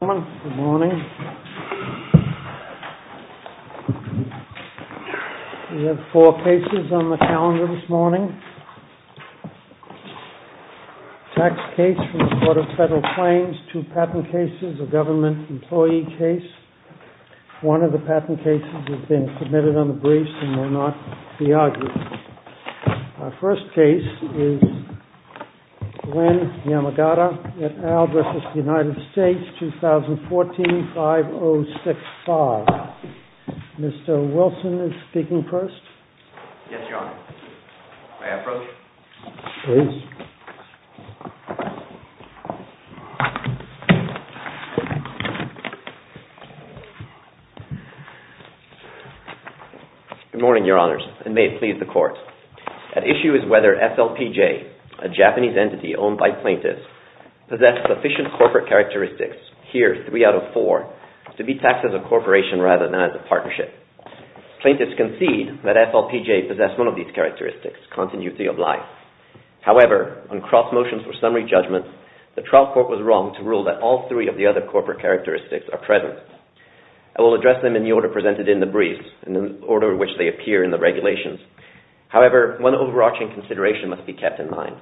We have four cases on the calendar this morning, a tax case from the Court of Federal Claims, two patent cases, a government employee case. One of the patent cases has been submitted on the briefs and may not be argued. Our first case is Glenn Yamagata, et al. v. United States, 2014-5065. Mr. Wilson is speaking first. Yes, Your Honor. May I approach? Please. Good morning, Your Honors, and may it please the Court. At issue is whether FLPJ, a Japanese entity owned by plaintiffs, possess sufficient corporate characteristics, here three out of four, to be taxed as a corporation rather than as a partnership. Plaintiffs concede that FLPJ possess one of these characteristics, continuity of life. However, on cross motions or summary judgments, the trial court was wrong to rule that all three of the other corporate characteristics are present. I will address them in the order presented in the briefs, in the order in which they appear in the regulations. However, one overarching consideration must be kept in mind.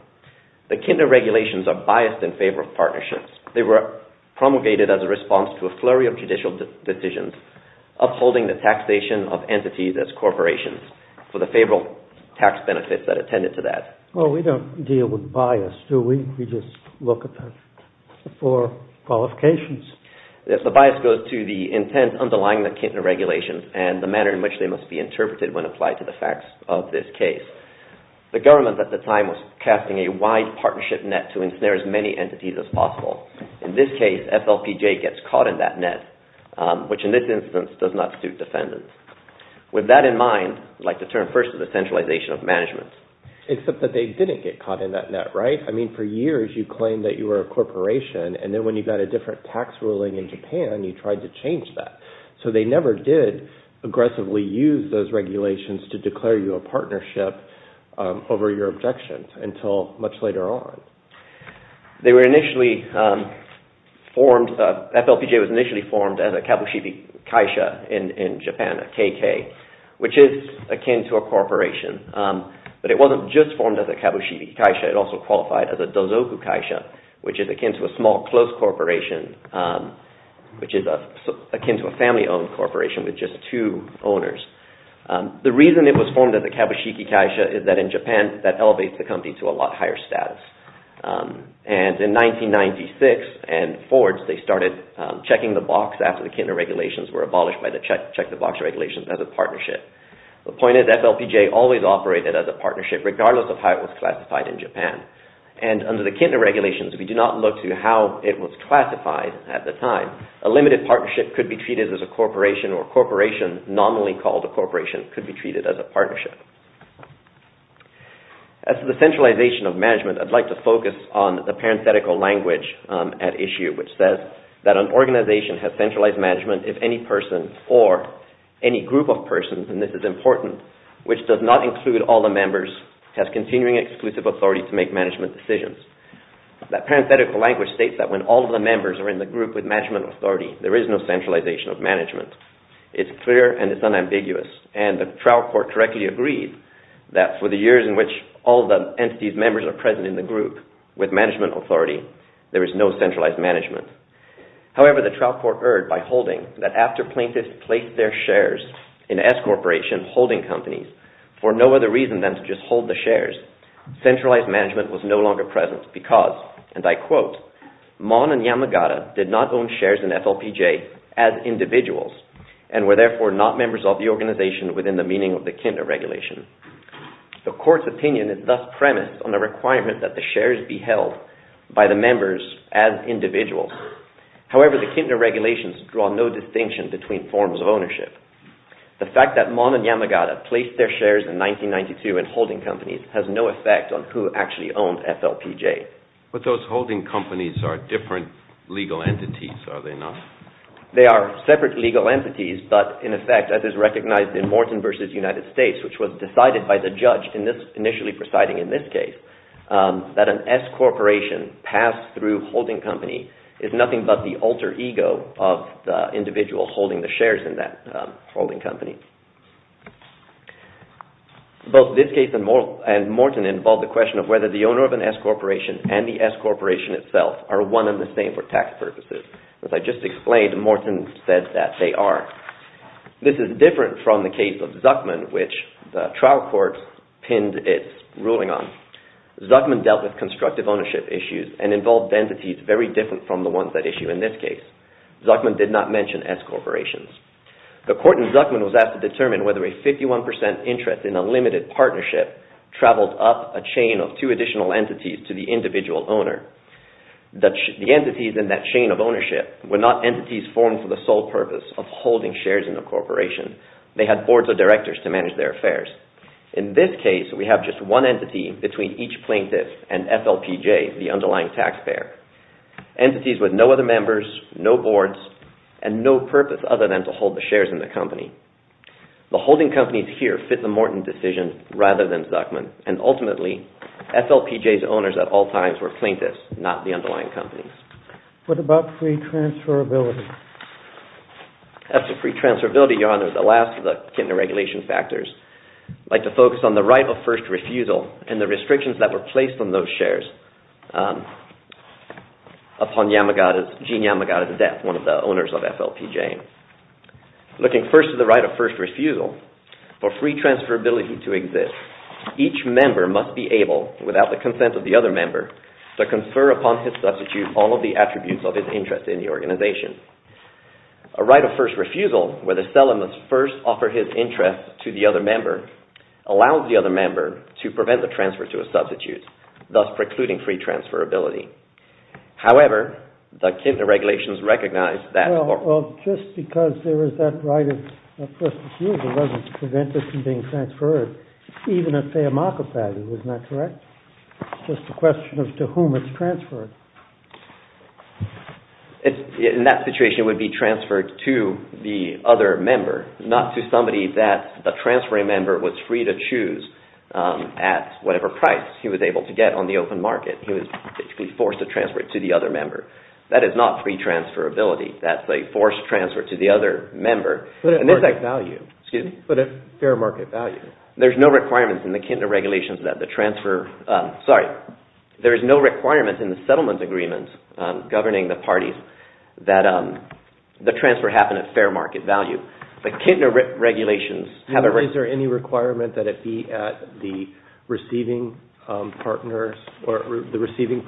The kinder regulations are biased in favor of partnerships. They were promulgated as a response to a flurry of judicial decisions, upholding the taxation of entities as corporations for the favorable tax benefits that attended to that. Well, we don't deal with bias, do we? We just look at the four qualifications. Yes, the bias goes to the intent underlying the kinder regulations and the manner in which they must be interpreted when applied to the facts of this case. The government at the time was casting a wide partnership net to ensnare as many entities as possible. In this case, FLPJ gets caught in that net, which in this instance does not suit defendants. With that in mind, I'd like to turn first to the centralization of management. Except that they didn't get caught in that net, right? I mean, for years you claimed that you were a corporation, and then when you got a different tax ruling in Japan, you tried to change that. So they never did aggressively use those regulations to declare you a partnership over your objections until much later on. FLPJ was initially formed as a kabushiki kaisha in Japan, a KK, which is akin to a corporation. But it wasn't just formed as a kabushiki kaisha. It also qualified as a dozoku kaisha, which is akin to a small, close corporation, which is akin to a family-owned corporation with just two owners. The reason it was formed as a kabushiki kaisha is that in Japan, that elevates the company to a lot higher status. And in 1996 and forwards, they started checking the box after the Kintner regulations were abolished by the check-the-box regulations as a partnership. The point is, FLPJ always operated as a partnership, regardless of how it was classified in Japan. And under the Kintner regulations, we do not look to how it was classified at the time. A limited partnership could be treated as a corporation, or a corporation, nominally called a corporation, could be treated as a partnership. As to the centralization of management, I'd like to focus on the parenthetical language at issue, which says that an organization has centralized management if any person or any group of persons, and this is important, which does not include all the members, has continuing exclusive authority to make management decisions. That parenthetical language states that when all of the members are in the group with management authority, there is no centralization of management. It's clear and it's unambiguous, and the trial court correctly agreed that for the years in which all of the entities' members are present in the group with management authority, there is no centralized management. However, the trial court erred by holding that after plaintiffs placed their shares in S-corporation holding companies, for no other reason than to just hold the shares, centralized management was no longer present because, and I quote, Mon and Yamagata did not own shares in FLPJ as individuals, and were therefore not members of the organization within the meaning of the Kintner regulation. The court's opinion is thus premised on the requirement that the shares be held by the members as individuals. However, the Kintner regulations draw no distinction between forms of ownership. The fact that Mon and Yamagata placed their shares in 1992 in holding companies has no effect on who actually owned FLPJ. But those holding companies are different legal entities, are they not? They are separate legal entities, but in effect, as is recognized in Morton v. United States, which was decided by the judge initially presiding in this case, that an S-corporation passed through holding company is nothing but the alter ego of the individual holding the shares in that holding company. Both this case and Morton involve the question of whether the owner of an S-corporation and the S-corporation itself are one and the same for tax purposes. As I just explained, Morton said that they are. This is different from the case of Zuckman, which the trial court pinned its ruling on. Zuckman dealt with constructive ownership issues and involved entities very different from the ones at issue in this case. Zuckman did not mention S-corporations. The court in Zuckman was asked to determine whether a 51% interest in a limited partnership traveled up a chain of two additional entities to the individual owner. The entities in that chain of ownership were not entities formed for the sole purpose of holding shares in a corporation. They had boards of directors to manage their affairs. In this case, we have just one entity between each plaintiff and FLPJ, the underlying taxpayer. Entities with no other members, no boards, and no purpose other than to hold the shares in the company. The holding companies here fit the Morton decision rather than Zuckman, and ultimately, FLPJ's owners at all times were plaintiffs, not the underlying companies. What about free transferability? As for free transferability, Your Honor, the last of the kind of regulation factors like to focus on the right of first refusal and the restrictions that were placed on those shares. Upon Gene Yamagata's death, one of the owners of FLPJ. Looking first to the right of first refusal, for free transferability to exist, each member must be able, without the consent of the other member, to confer upon his substitute all of the attributes of his interest in the organization. A right of first refusal, where the seller must first offer his interest to the other member, allows the other member to prevent the transfer to a substitute, thus precluding free transferability. However, the regulations recognize that... Well, just because there is that right of first refusal doesn't prevent it from being transferred. Even if, say, a market value is not correct. It's just a question of to whom it's transferred. In that situation, it would be transferred to the other member, not to somebody that the transferring member was free to choose at whatever price he was able to get on the open market. He was basically forced to transfer it to the other member. That is not free transferability. That's a forced transfer to the other member. But at fair market value. There's no requirement in the settlement agreement governing the parties that the transfer happen at fair market value. The Kintner regulations... Is there any requirement that it be at the receiving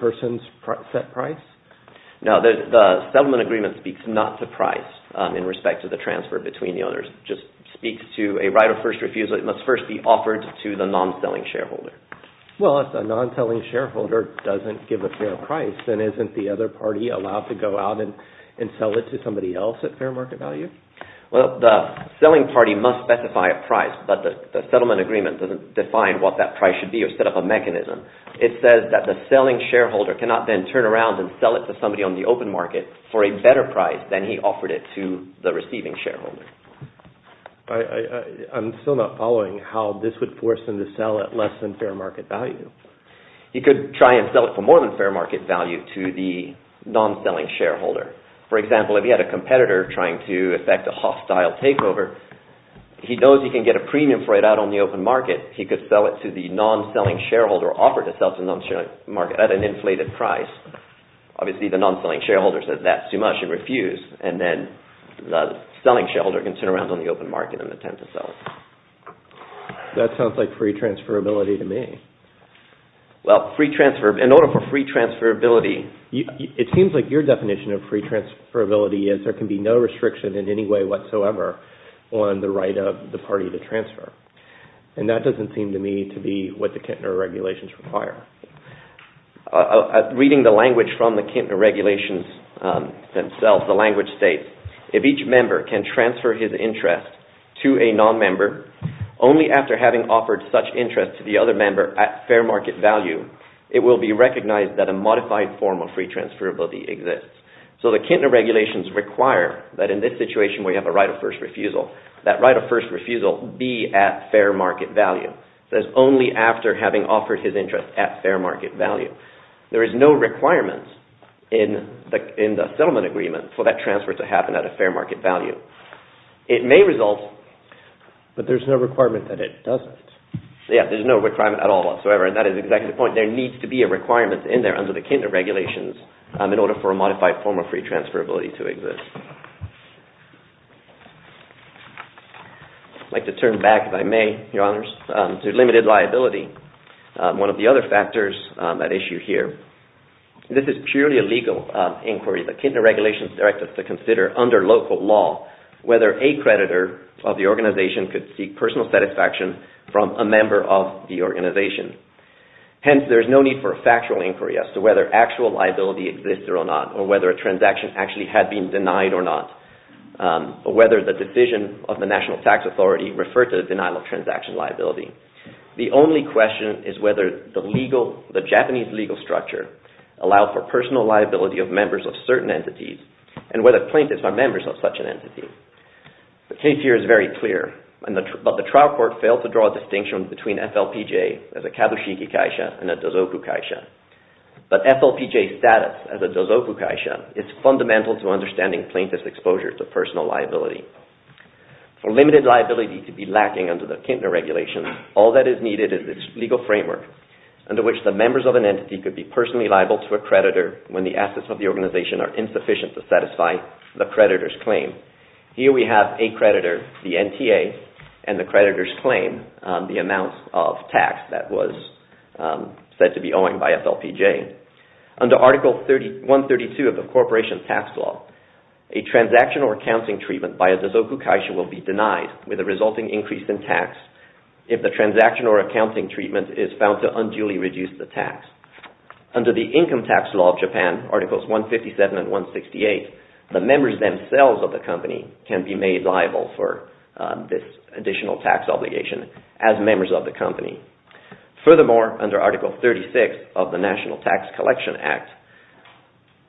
person's set price? No, the settlement agreement speaks not to price in respect to the transfer between the owners. It just speaks to a right of first refusal. It must first be offered to the non-selling shareholder. Well, if the non-selling shareholder doesn't give a fair price, then isn't the other party allowed to go out and sell it to somebody else at fair market value? Well, the selling party must specify a price, but the settlement agreement doesn't define what that price should be or set up a mechanism. It says that the selling shareholder cannot then turn around and sell it to somebody on the open market for a better price than he offered it to the receiving shareholder. I'm still not following how this would force them to sell at less than fair market value. You could try and sell it for more than fair market value to the non-selling shareholder. For example, if you had a competitor trying to effect a hostile takeover, he knows he can get a premium for it out on the open market. He could sell it to the non-selling shareholder or offer to sell to the non-selling shareholder at an inflated price. Obviously, the non-selling shareholder says that's too much and refuses, and then the selling shareholder can turn around on the open market and attempt to sell it. That sounds like free transferability to me. Well, in order for free transferability... It seems like your definition of free transferability is there can be no restriction in any way whatsoever on the right of the party to transfer. That doesn't seem to me to be what the Kintner Regulations require. Reading the language from the Kintner Regulations themselves, the language states, if each member can transfer his interest to a non-member only after having offered such interest to the other member at fair market value, it will be recognized that a modified form of free transferability exists. So the Kintner Regulations require that in this situation where you have a right of first refusal, that right of first refusal be at fair market value. That is only after having offered his interest at fair market value. There is no requirement in the settlement agreement for that transfer to happen at a fair market value. It may result... But there's no requirement that it doesn't. Yeah, there's no requirement at all whatsoever. And that is exactly the point. There needs to be a requirement in there under the Kintner Regulations in order for a modified form of free transferability to exist. I'd like to turn back, if I may, Your Honors, to limited liability. One of the other factors at issue here. This is purely a legal inquiry. The Kintner Regulations direct us to consider under local law whether a creditor of the organization could seek personal satisfaction from a member of the organization. Hence, there is no need for a factual inquiry as to whether actual liability exists or not, or whether a transaction actually had been denied or not, or whether the decision of the National Tax Authority referred to the denial of transaction liability. The only question is whether the Japanese legal structure allowed for personal liability of members of certain entities, and whether plaintiffs are members of such an entity. The case here is very clear. But the trial court failed to draw a distinction between FLPJ as a kabushiki kaisha and a dozoku kaisha. But FLPJ status as a dozoku kaisha is fundamental to understanding plaintiff's exposure to personal liability. For limited liability to be lacking under the Kintner Regulations, all that is needed is a legal framework under which the members of an entity could be personally liable to a creditor when the assets of the organization are insufficient to satisfy the creditor's claim. Here we have a creditor, the NTA, and the creditor's claim on the amount of tax that was said to be owing by FLPJ. Under Article 132 of the Corporation Tax Law, a transaction or accounting treatment by a dozoku kaisha will be denied with a resulting increase in tax if the transaction or accounting treatment is found to unduly reduce the tax. Under the Income Tax Law of Japan, Articles 157 and 168, the members themselves of the company can be made liable for this additional tax obligation as members of the company. Furthermore, under Article 36 of the National Tax Collection Act,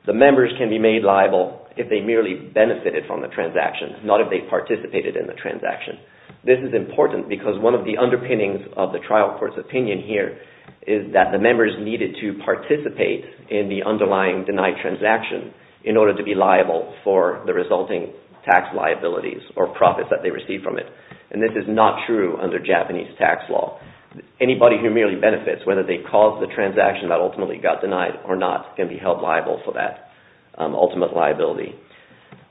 the members can be made liable if they merely benefited from the transaction, not if they participated in the transaction. This is important because one of the underpinnings of the trial court's opinion here is that the members needed to participate in the underlying denied transaction in order to be liable for the resulting tax liabilities or profits that they received from it. And this is not true under Japanese tax law. Anybody who merely benefits, whether they caused the transaction that ultimately got denied or not, can be held liable for that ultimate liability.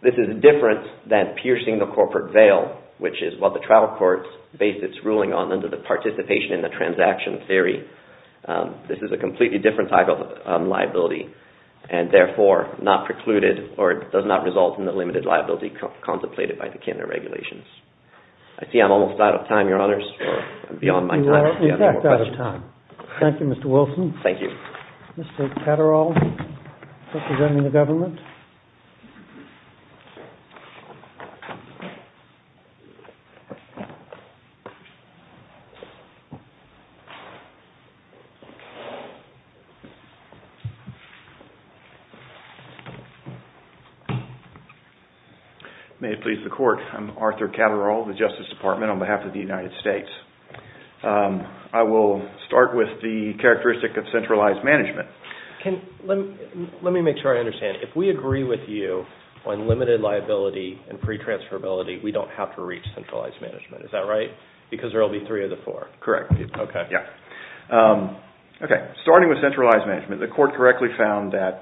This is different than piercing the corporate veil, which is what the trial court based its ruling on under the participation in the transaction theory. This is a completely different type of liability and therefore not precluded or does not result in the limited liability contemplated by the kinder regulations. I see I'm almost out of time, Your Honors. I'm beyond my time. You are, in fact, out of time. Thank you, Mr. Wilson. Thank you. Mr. Catterall, representing the government. May it please the court, I'm Arthur Catterall, the Justice Department on behalf of the United States. I will start with the characteristic of centralized management. Let me make sure I understand. If we agree with you on limited liability and pre-transferability, we don't have to reach centralized management, is that right? Because there will be three of the four. Correct. Okay. Starting with centralized management, the court correctly found that,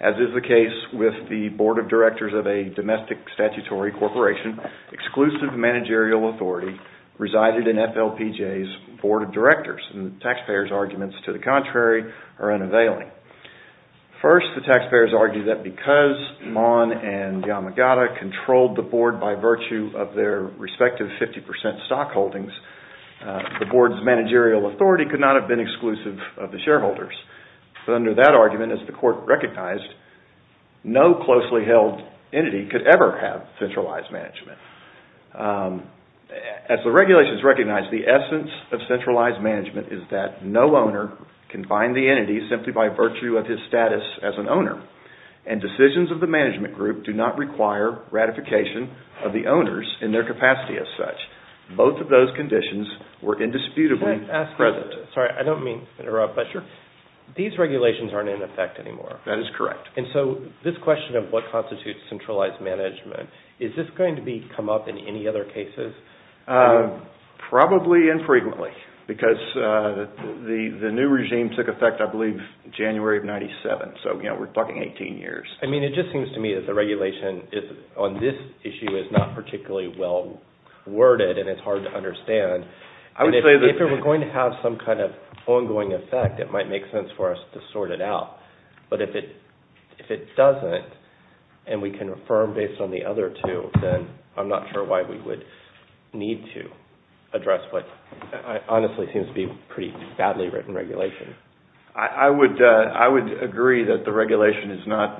as is the case with the Board of Directors of a domestic statutory corporation, exclusive managerial authority resided in FLPJ's Board of Directors. The taxpayers' arguments to the contrary are unavailing. First, the taxpayers argue that because Mahon and Yamagata controlled the board by virtue of their respective 50% stock holdings, the board's managerial authority could not have been exclusive of the shareholders. Under that argument, as the court recognized, no closely held entity could ever have centralized management. As the regulations recognize, the essence of centralized management is that no owner can bind the entity simply by virtue of his status as an owner, and decisions of the management group do not require ratification of the owners in their capacity as such. Both of those conditions were indisputably present. Sorry, I don't mean to interrupt, but these regulations aren't in effect anymore. That is correct. And so this question of what constitutes centralized management, is this going to come up in any other cases? Probably infrequently, because the new regime took effect, I believe, January of 1997. So, you know, we're talking 18 years. I mean, it just seems to me that the regulation on this issue is not particularly well worded, and it's hard to understand. If it were going to have some kind of ongoing effect, it might make sense for us to sort it out. But if it doesn't, and we can affirm based on the other two, then I'm not sure why we would need to address what honestly seems to be a pretty badly written regulation. I would agree that the regulation is not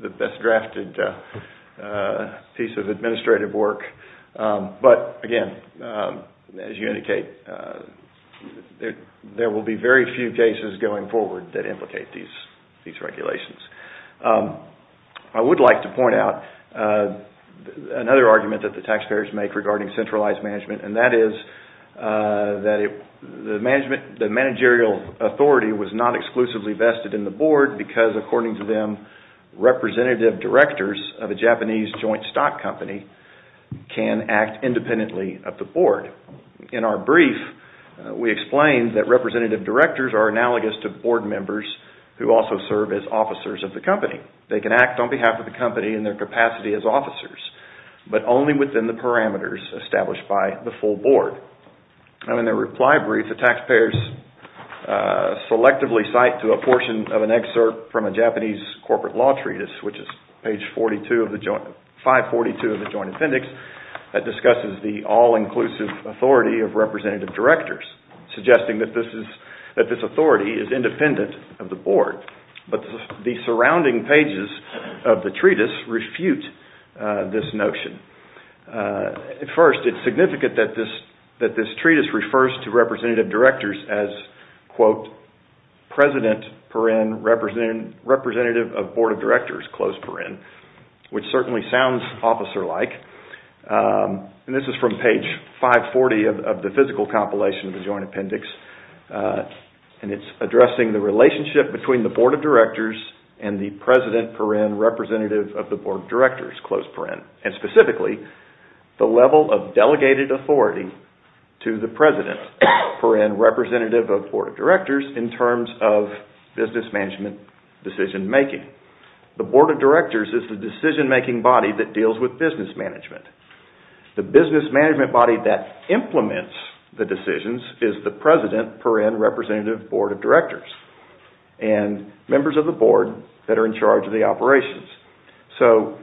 the best drafted piece of administrative work. But, again, as you indicate, there will be very few cases going forward that implicate these regulations. I would like to point out another argument that the taxpayers make regarding centralized management, and that is that the managerial authority was not exclusively vested in the board because, according to them, representative directors of a Japanese joint stock company can act independently of the board. In our brief, we explain that representative directors are analogous to board members who also serve as officers of the company. They can act on behalf of the company in their capacity as officers, but only within the parameters established by the full board. In the reply brief, the taxpayers selectively cite to a portion of an excerpt from a Japanese corporate law treatise, which is page 542 of the joint appendix, that discusses the all-inclusive authority of representative directors, suggesting that this authority is independent of the board. But the surrounding pages of the treatise refute this notion. First, it's significant that this treatise refers to representative directors as, quote, president per in, representative of board of directors, close per in, which certainly sounds officer-like. This is from page 540 of the physical compilation of the joint appendix, and it's addressing the relationship between the board of directors and the president per in, representative of the board of directors, close per in, and specifically, the level of delegated authority to the president per in, representative of board of directors, in terms of business management decision-making. The board of directors is the decision-making body that deals with business management. The business management body that implements the decisions is the president per in, representative board of directors, and members of the board that are in charge of the operations. So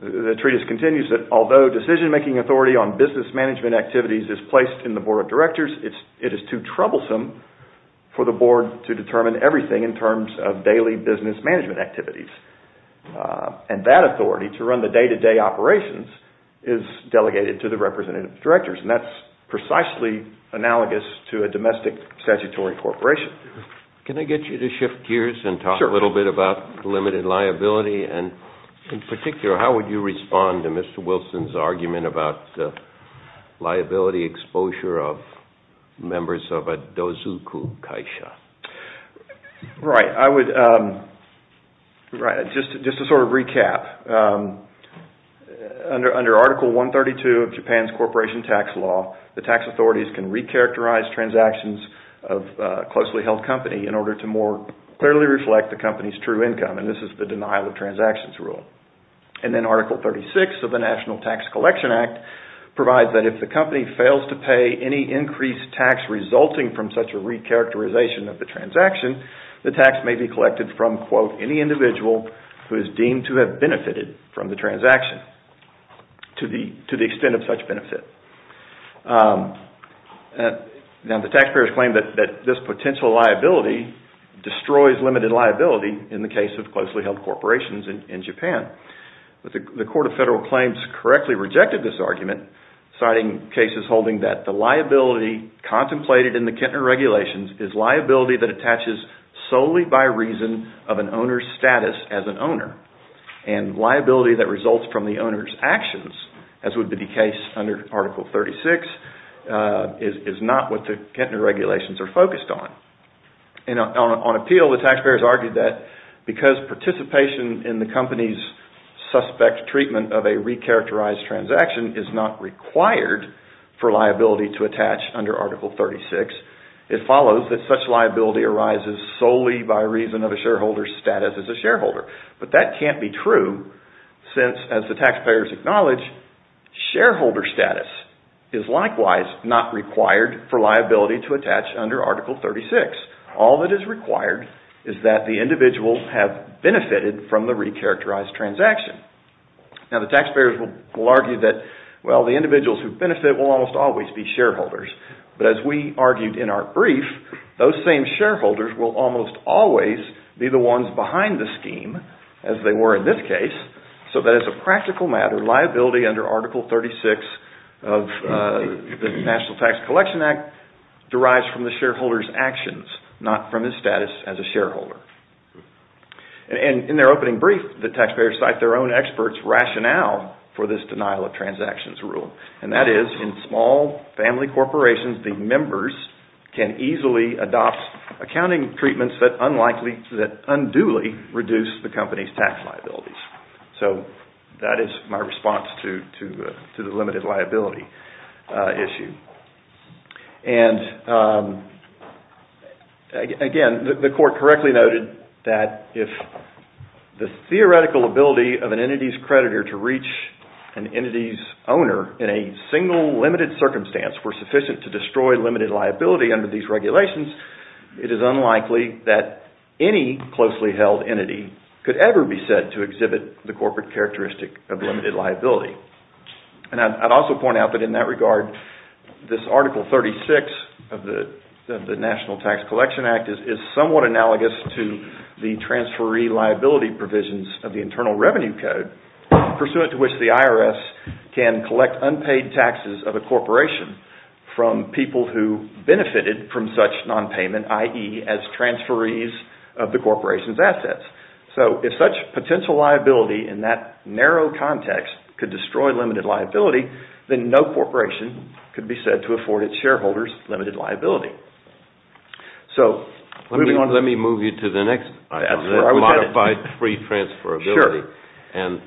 the treatise continues that although decision-making authority on business management activities is placed in the board of directors, it is too troublesome for the board to determine everything in terms of daily business management activities. And that authority to run the day-to-day operations is delegated to the representative directors, and that's precisely analogous to a domestic statutory corporation. Can I get you to shift gears and talk a little bit about limited liability, and in particular, how would you respond to Mr. Wilson's argument about liability exposure of members of a dozoku kaisha? Right. I would just sort of recap. Under Article 132 of Japan's corporation tax law, the tax authorities can recharacterize transactions of a closely held company in order to more clearly reflect the company's true income, and this is the denial of transactions rule. And then Article 36 of the National Tax Collection Act provides that if the company fails to pay any increased tax resulting from such a recharacterization of the transaction, the tax may be collected from, quote, any individual who is deemed to have benefited from the transaction to the extent of such benefit. Now, the taxpayers claim that this potential liability destroys limited liability in the case of closely held corporations in Japan. But the Court of Federal Claims correctly rejected this argument, citing cases holding that the liability contemplated in the Kintner regulations is liability that attaches solely by reason of an owner's status as an owner, and liability that results from the owner's actions, as would be the case under Article 36, is not what the Kintner regulations are focused on. And on appeal, the taxpayers argued that because participation in the company's suspect treatment of a recharacterized transaction is not required for liability to attach under Article 36, it follows that such liability arises solely by reason of a shareholder's status as a shareholder. But that can't be true, since, as the taxpayers acknowledge, shareholder status is likewise not required for liability to attach under Article 36. All that is required is that the individual have benefited from the recharacterized transaction. Now, the taxpayers will argue that, well, the individuals who benefit will almost always be shareholders. But as we argued in our brief, those same shareholders will almost always be the ones behind the scheme, as they were in this case, so that as a practical matter, liability under Article 36 of the National Tax Collection Act derives from the shareholder's actions, not from his status as a shareholder. And in their opening brief, the taxpayers cite their own experts' rationale for this denial of transactions rule, and that is, in small family corporations, the members can easily adopt accounting treatments that unduly reduce the company's tax liabilities. So that is my response to the limited liability issue. And, again, the Court correctly noted that if the theoretical ability of an entity's creditor to reach an entity's owner in a single limited circumstance were sufficient to destroy limited liability under these regulations, it is unlikely that any closely held entity could ever be said to exhibit the corporate characteristic of limited liability. And I'd also point out that in that regard, this Article 36 of the National Tax Collection Act is somewhat analogous to the transferee liability provisions of the Internal Revenue Code, pursuant to which the IRS can collect unpaid taxes of a corporation from people who benefited from such nonpayment, i.e., as transferees of the corporation's assets. So if such potential liability in that narrow context could destroy limited liability, then no corporation could be said to afford its shareholders limited liability. Let me move you to the next item, the modified free transferability. And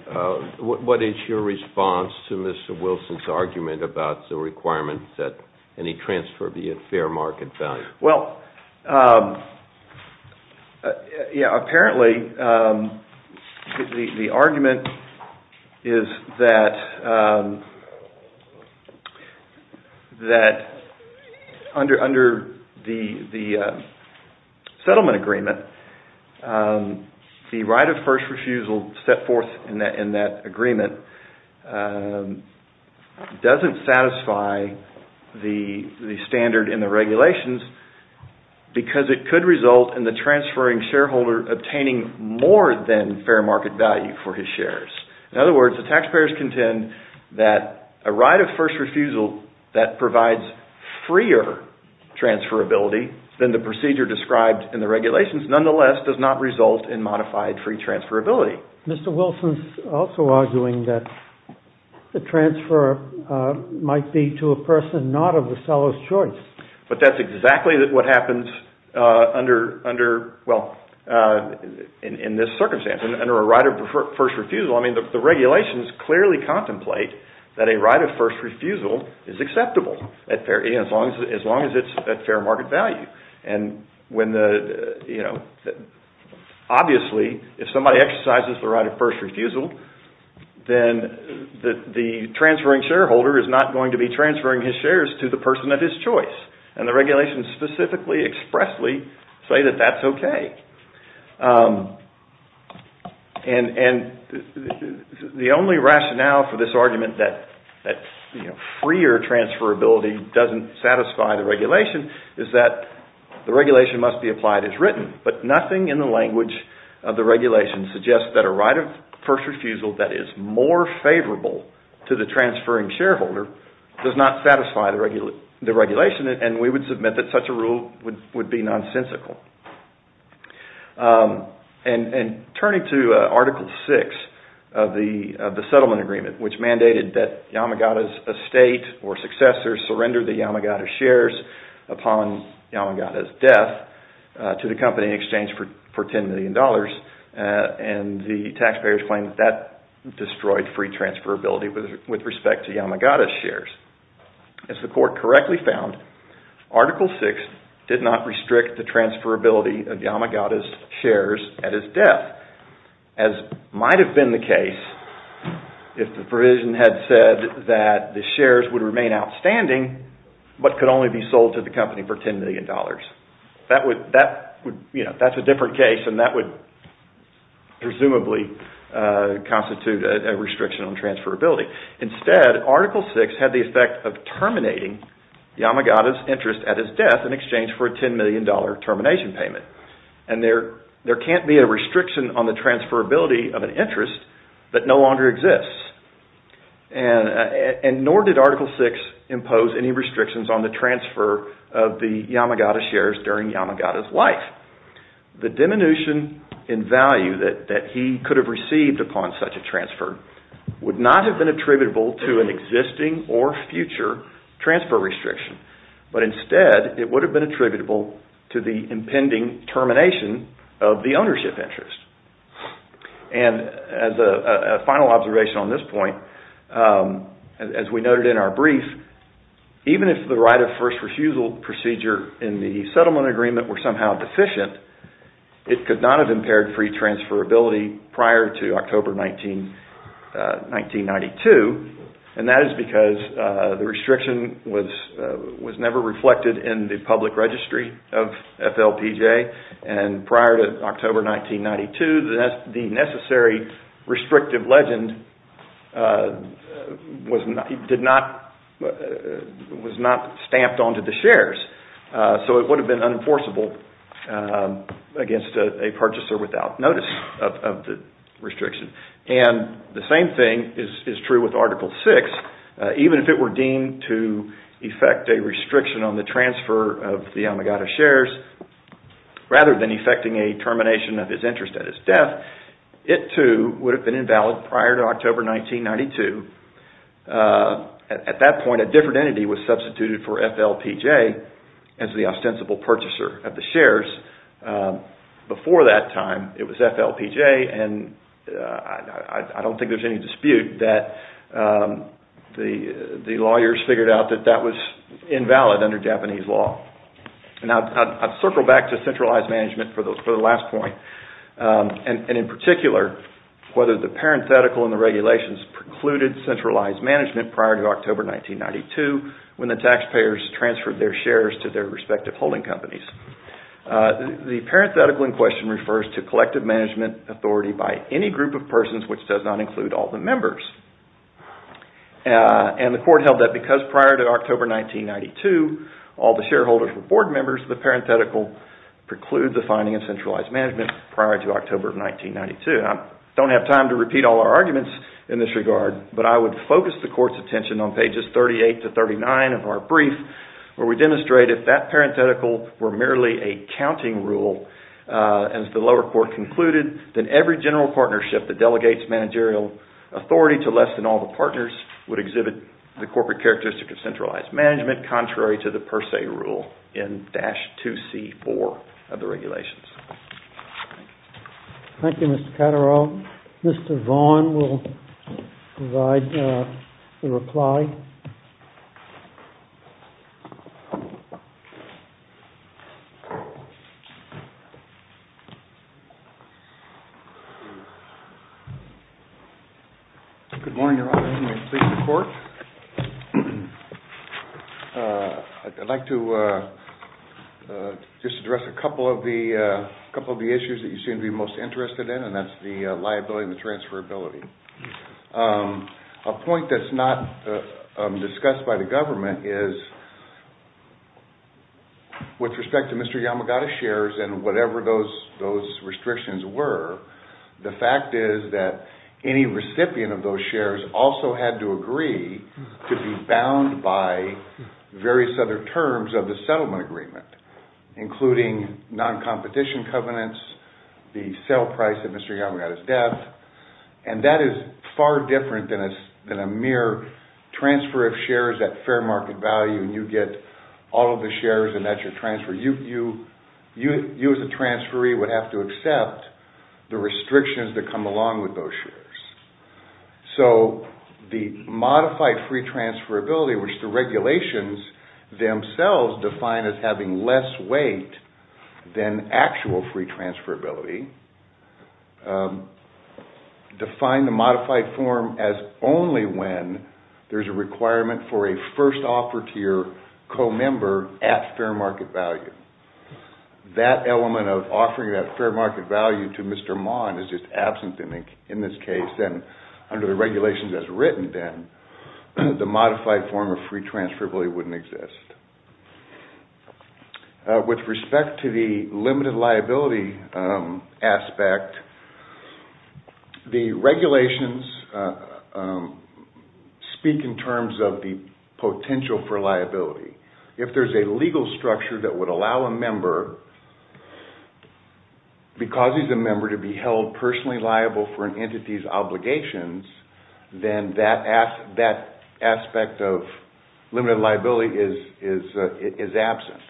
what is your response to Mr. Wilson's argument about the requirement that any transfer be at fair market value? Well, yeah, apparently the argument is that under the settlement agreement, the right of first refusal set forth in that agreement doesn't satisfy the standard in the regulations because it could result in the transferring shareholder obtaining more than fair market value for his shares. In other words, the taxpayers contend that a right of first refusal that provides freer transferability than the procedure described in the regulations, nonetheless, does not result in modified free transferability. Mr. Wilson's also arguing that the transfer might be to a person not of the seller's choice. But that's exactly what happens under, well, in this circumstance, under a right of first refusal. I mean, the regulations clearly contemplate that a right of first refusal is acceptable as long as it's at fair market value. And obviously, if somebody exercises the right of first refusal, then the transferring shareholder is not going to be transferring his shares to the person of his choice. And the regulations specifically expressly say that that's okay. And the only rationale for this argument that freer transferability doesn't satisfy the regulation is that the regulation must be applied as written. But nothing in the language of the regulation suggests that a right of first refusal that is more favorable to the transferring shareholder does not satisfy the regulation, and we would submit that such a rule would be nonsensical. And turning to Article VI of the settlement agreement, which mandated that Yamagata's estate or successors surrender the Yamagata shares upon Yamagata's death to the company in exchange for $10 million, and the taxpayers claim that that destroyed free transferability with respect to Yamagata's shares. As the court correctly found, Article VI did not restrict the transferability of Yamagata's shares at his death, as might have been the case if the provision had said that the shares would remain outstanding, but could only be sold to the company for $10 million. That's a different case, and that would presumably constitute a restriction on transferability. Instead, Article VI had the effect of terminating Yamagata's interest at his death in exchange for a $10 million termination payment. And there can't be a restriction on the transferability of an interest that no longer exists. And nor did Article VI impose any restrictions on the transfer of the Yamagata shares during Yamagata's life. The diminution in value that he could have received upon such a transfer would not have been attributable to an existing or future transfer restriction, but instead it would have been attributable to the impending termination of the ownership interest. And as a final observation on this point, as we noted in our brief, even if the right of first refusal procedure in the settlement agreement were somehow deficient, it could not have impaired free transferability prior to October 1992. And that is because the restriction was never reflected in the public registry of FLPJ. And prior to October 1992, the necessary restrictive legend was not stamped onto the shares. So it would have been unenforceable against a purchaser without notice of the restriction. And the same thing is true with Article VI. Even if it were deemed to effect a restriction on the transfer of the Yamagata shares, rather than effecting a termination of his interest at his death, it too would have been invalid prior to October 1992. At that point, a different entity was substituted for FLPJ as the ostensible purchaser of the shares. Before that time, it was FLPJ. And I don't think there's any dispute that the lawyers figured out that that was invalid under Japanese law. And I'd circle back to centralized management for the last point. And in particular, whether the parenthetical in the regulations precluded centralized management prior to October 1992 when the taxpayers transferred their shares to their respective holding companies. The parenthetical in question refers to collective management authority by any group of persons, which does not include all the members. And the court held that because prior to October 1992, all the shareholders were board members, the parenthetical precludes the finding of centralized management prior to October 1992. I don't have time to repeat all our arguments in this regard, but I would focus the court's attention on pages 38 to 39 of our brief, where we demonstrate if that parenthetical were merely a counting rule, as the lower court concluded, then every general partnership that delegates managerial authority to less than all the partners would exhibit the corporate characteristic of centralized management, contrary to the per se rule in dash 2C.4 of the regulations. Thank you, Mr. Catterall. Mr. Vaughan will provide the reply. Good morning, Your Honor. I'd like to just address a couple of the issues that you seem to be most interested in, and that's the liability and the transferability. A point that's not discussed by the government is, with respect to Mr. Yamagata's shares and whatever those restrictions were, the fact is that any recipient of those shares also had to agree to be bound by various other terms of the settlement agreement, including non-competition covenants, the sale price of Mr. Yamagata's debt. And that is far different than a mere transfer of shares at fair market value, and you get all of the shares and that's your transfer. You as a transferee would have to accept the restrictions that come along with those shares. So the modified free transferability, which the regulations themselves define as having less weight than actual free transferability, define the modified form as only when there's a requirement for a first offer to your co-member at fair market value. That element of offering that fair market value to Mr. Maughan is just absent in this case, and under the regulations as written, then, the modified form of free transferability wouldn't exist. With respect to the limited liability aspect, the regulations speak in terms of the potential for liability. If there's a legal structure that would allow a member, because he's a member, to be held personally liable for an entity's obligations, then that aspect of limited liability is absent.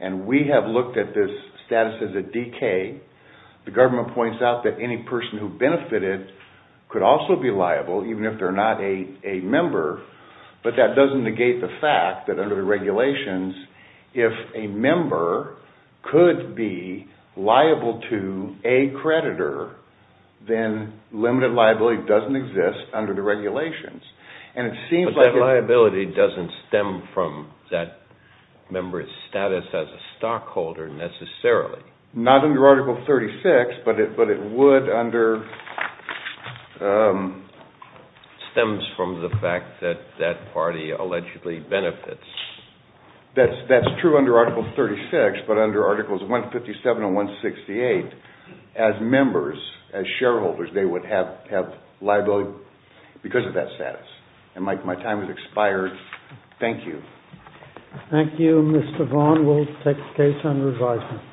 And we have looked at this status as a DK. The government points out that any person who benefited could also be liable, even if they're not a member, but that doesn't negate the fact that under the regulations, if a member could be liable to a creditor, then limited liability doesn't exist under the regulations. But that liability doesn't stem from that member's status as a stockholder, necessarily. Not under Article 36, but it would under... Stems from the fact that that party allegedly benefits. That's true under Article 36, but under Articles 157 and 168, as members, as shareholders, they would have liability because of that status. And my time has expired. Thank you. Thank you. Mr. Vaughan will take the case under advisement.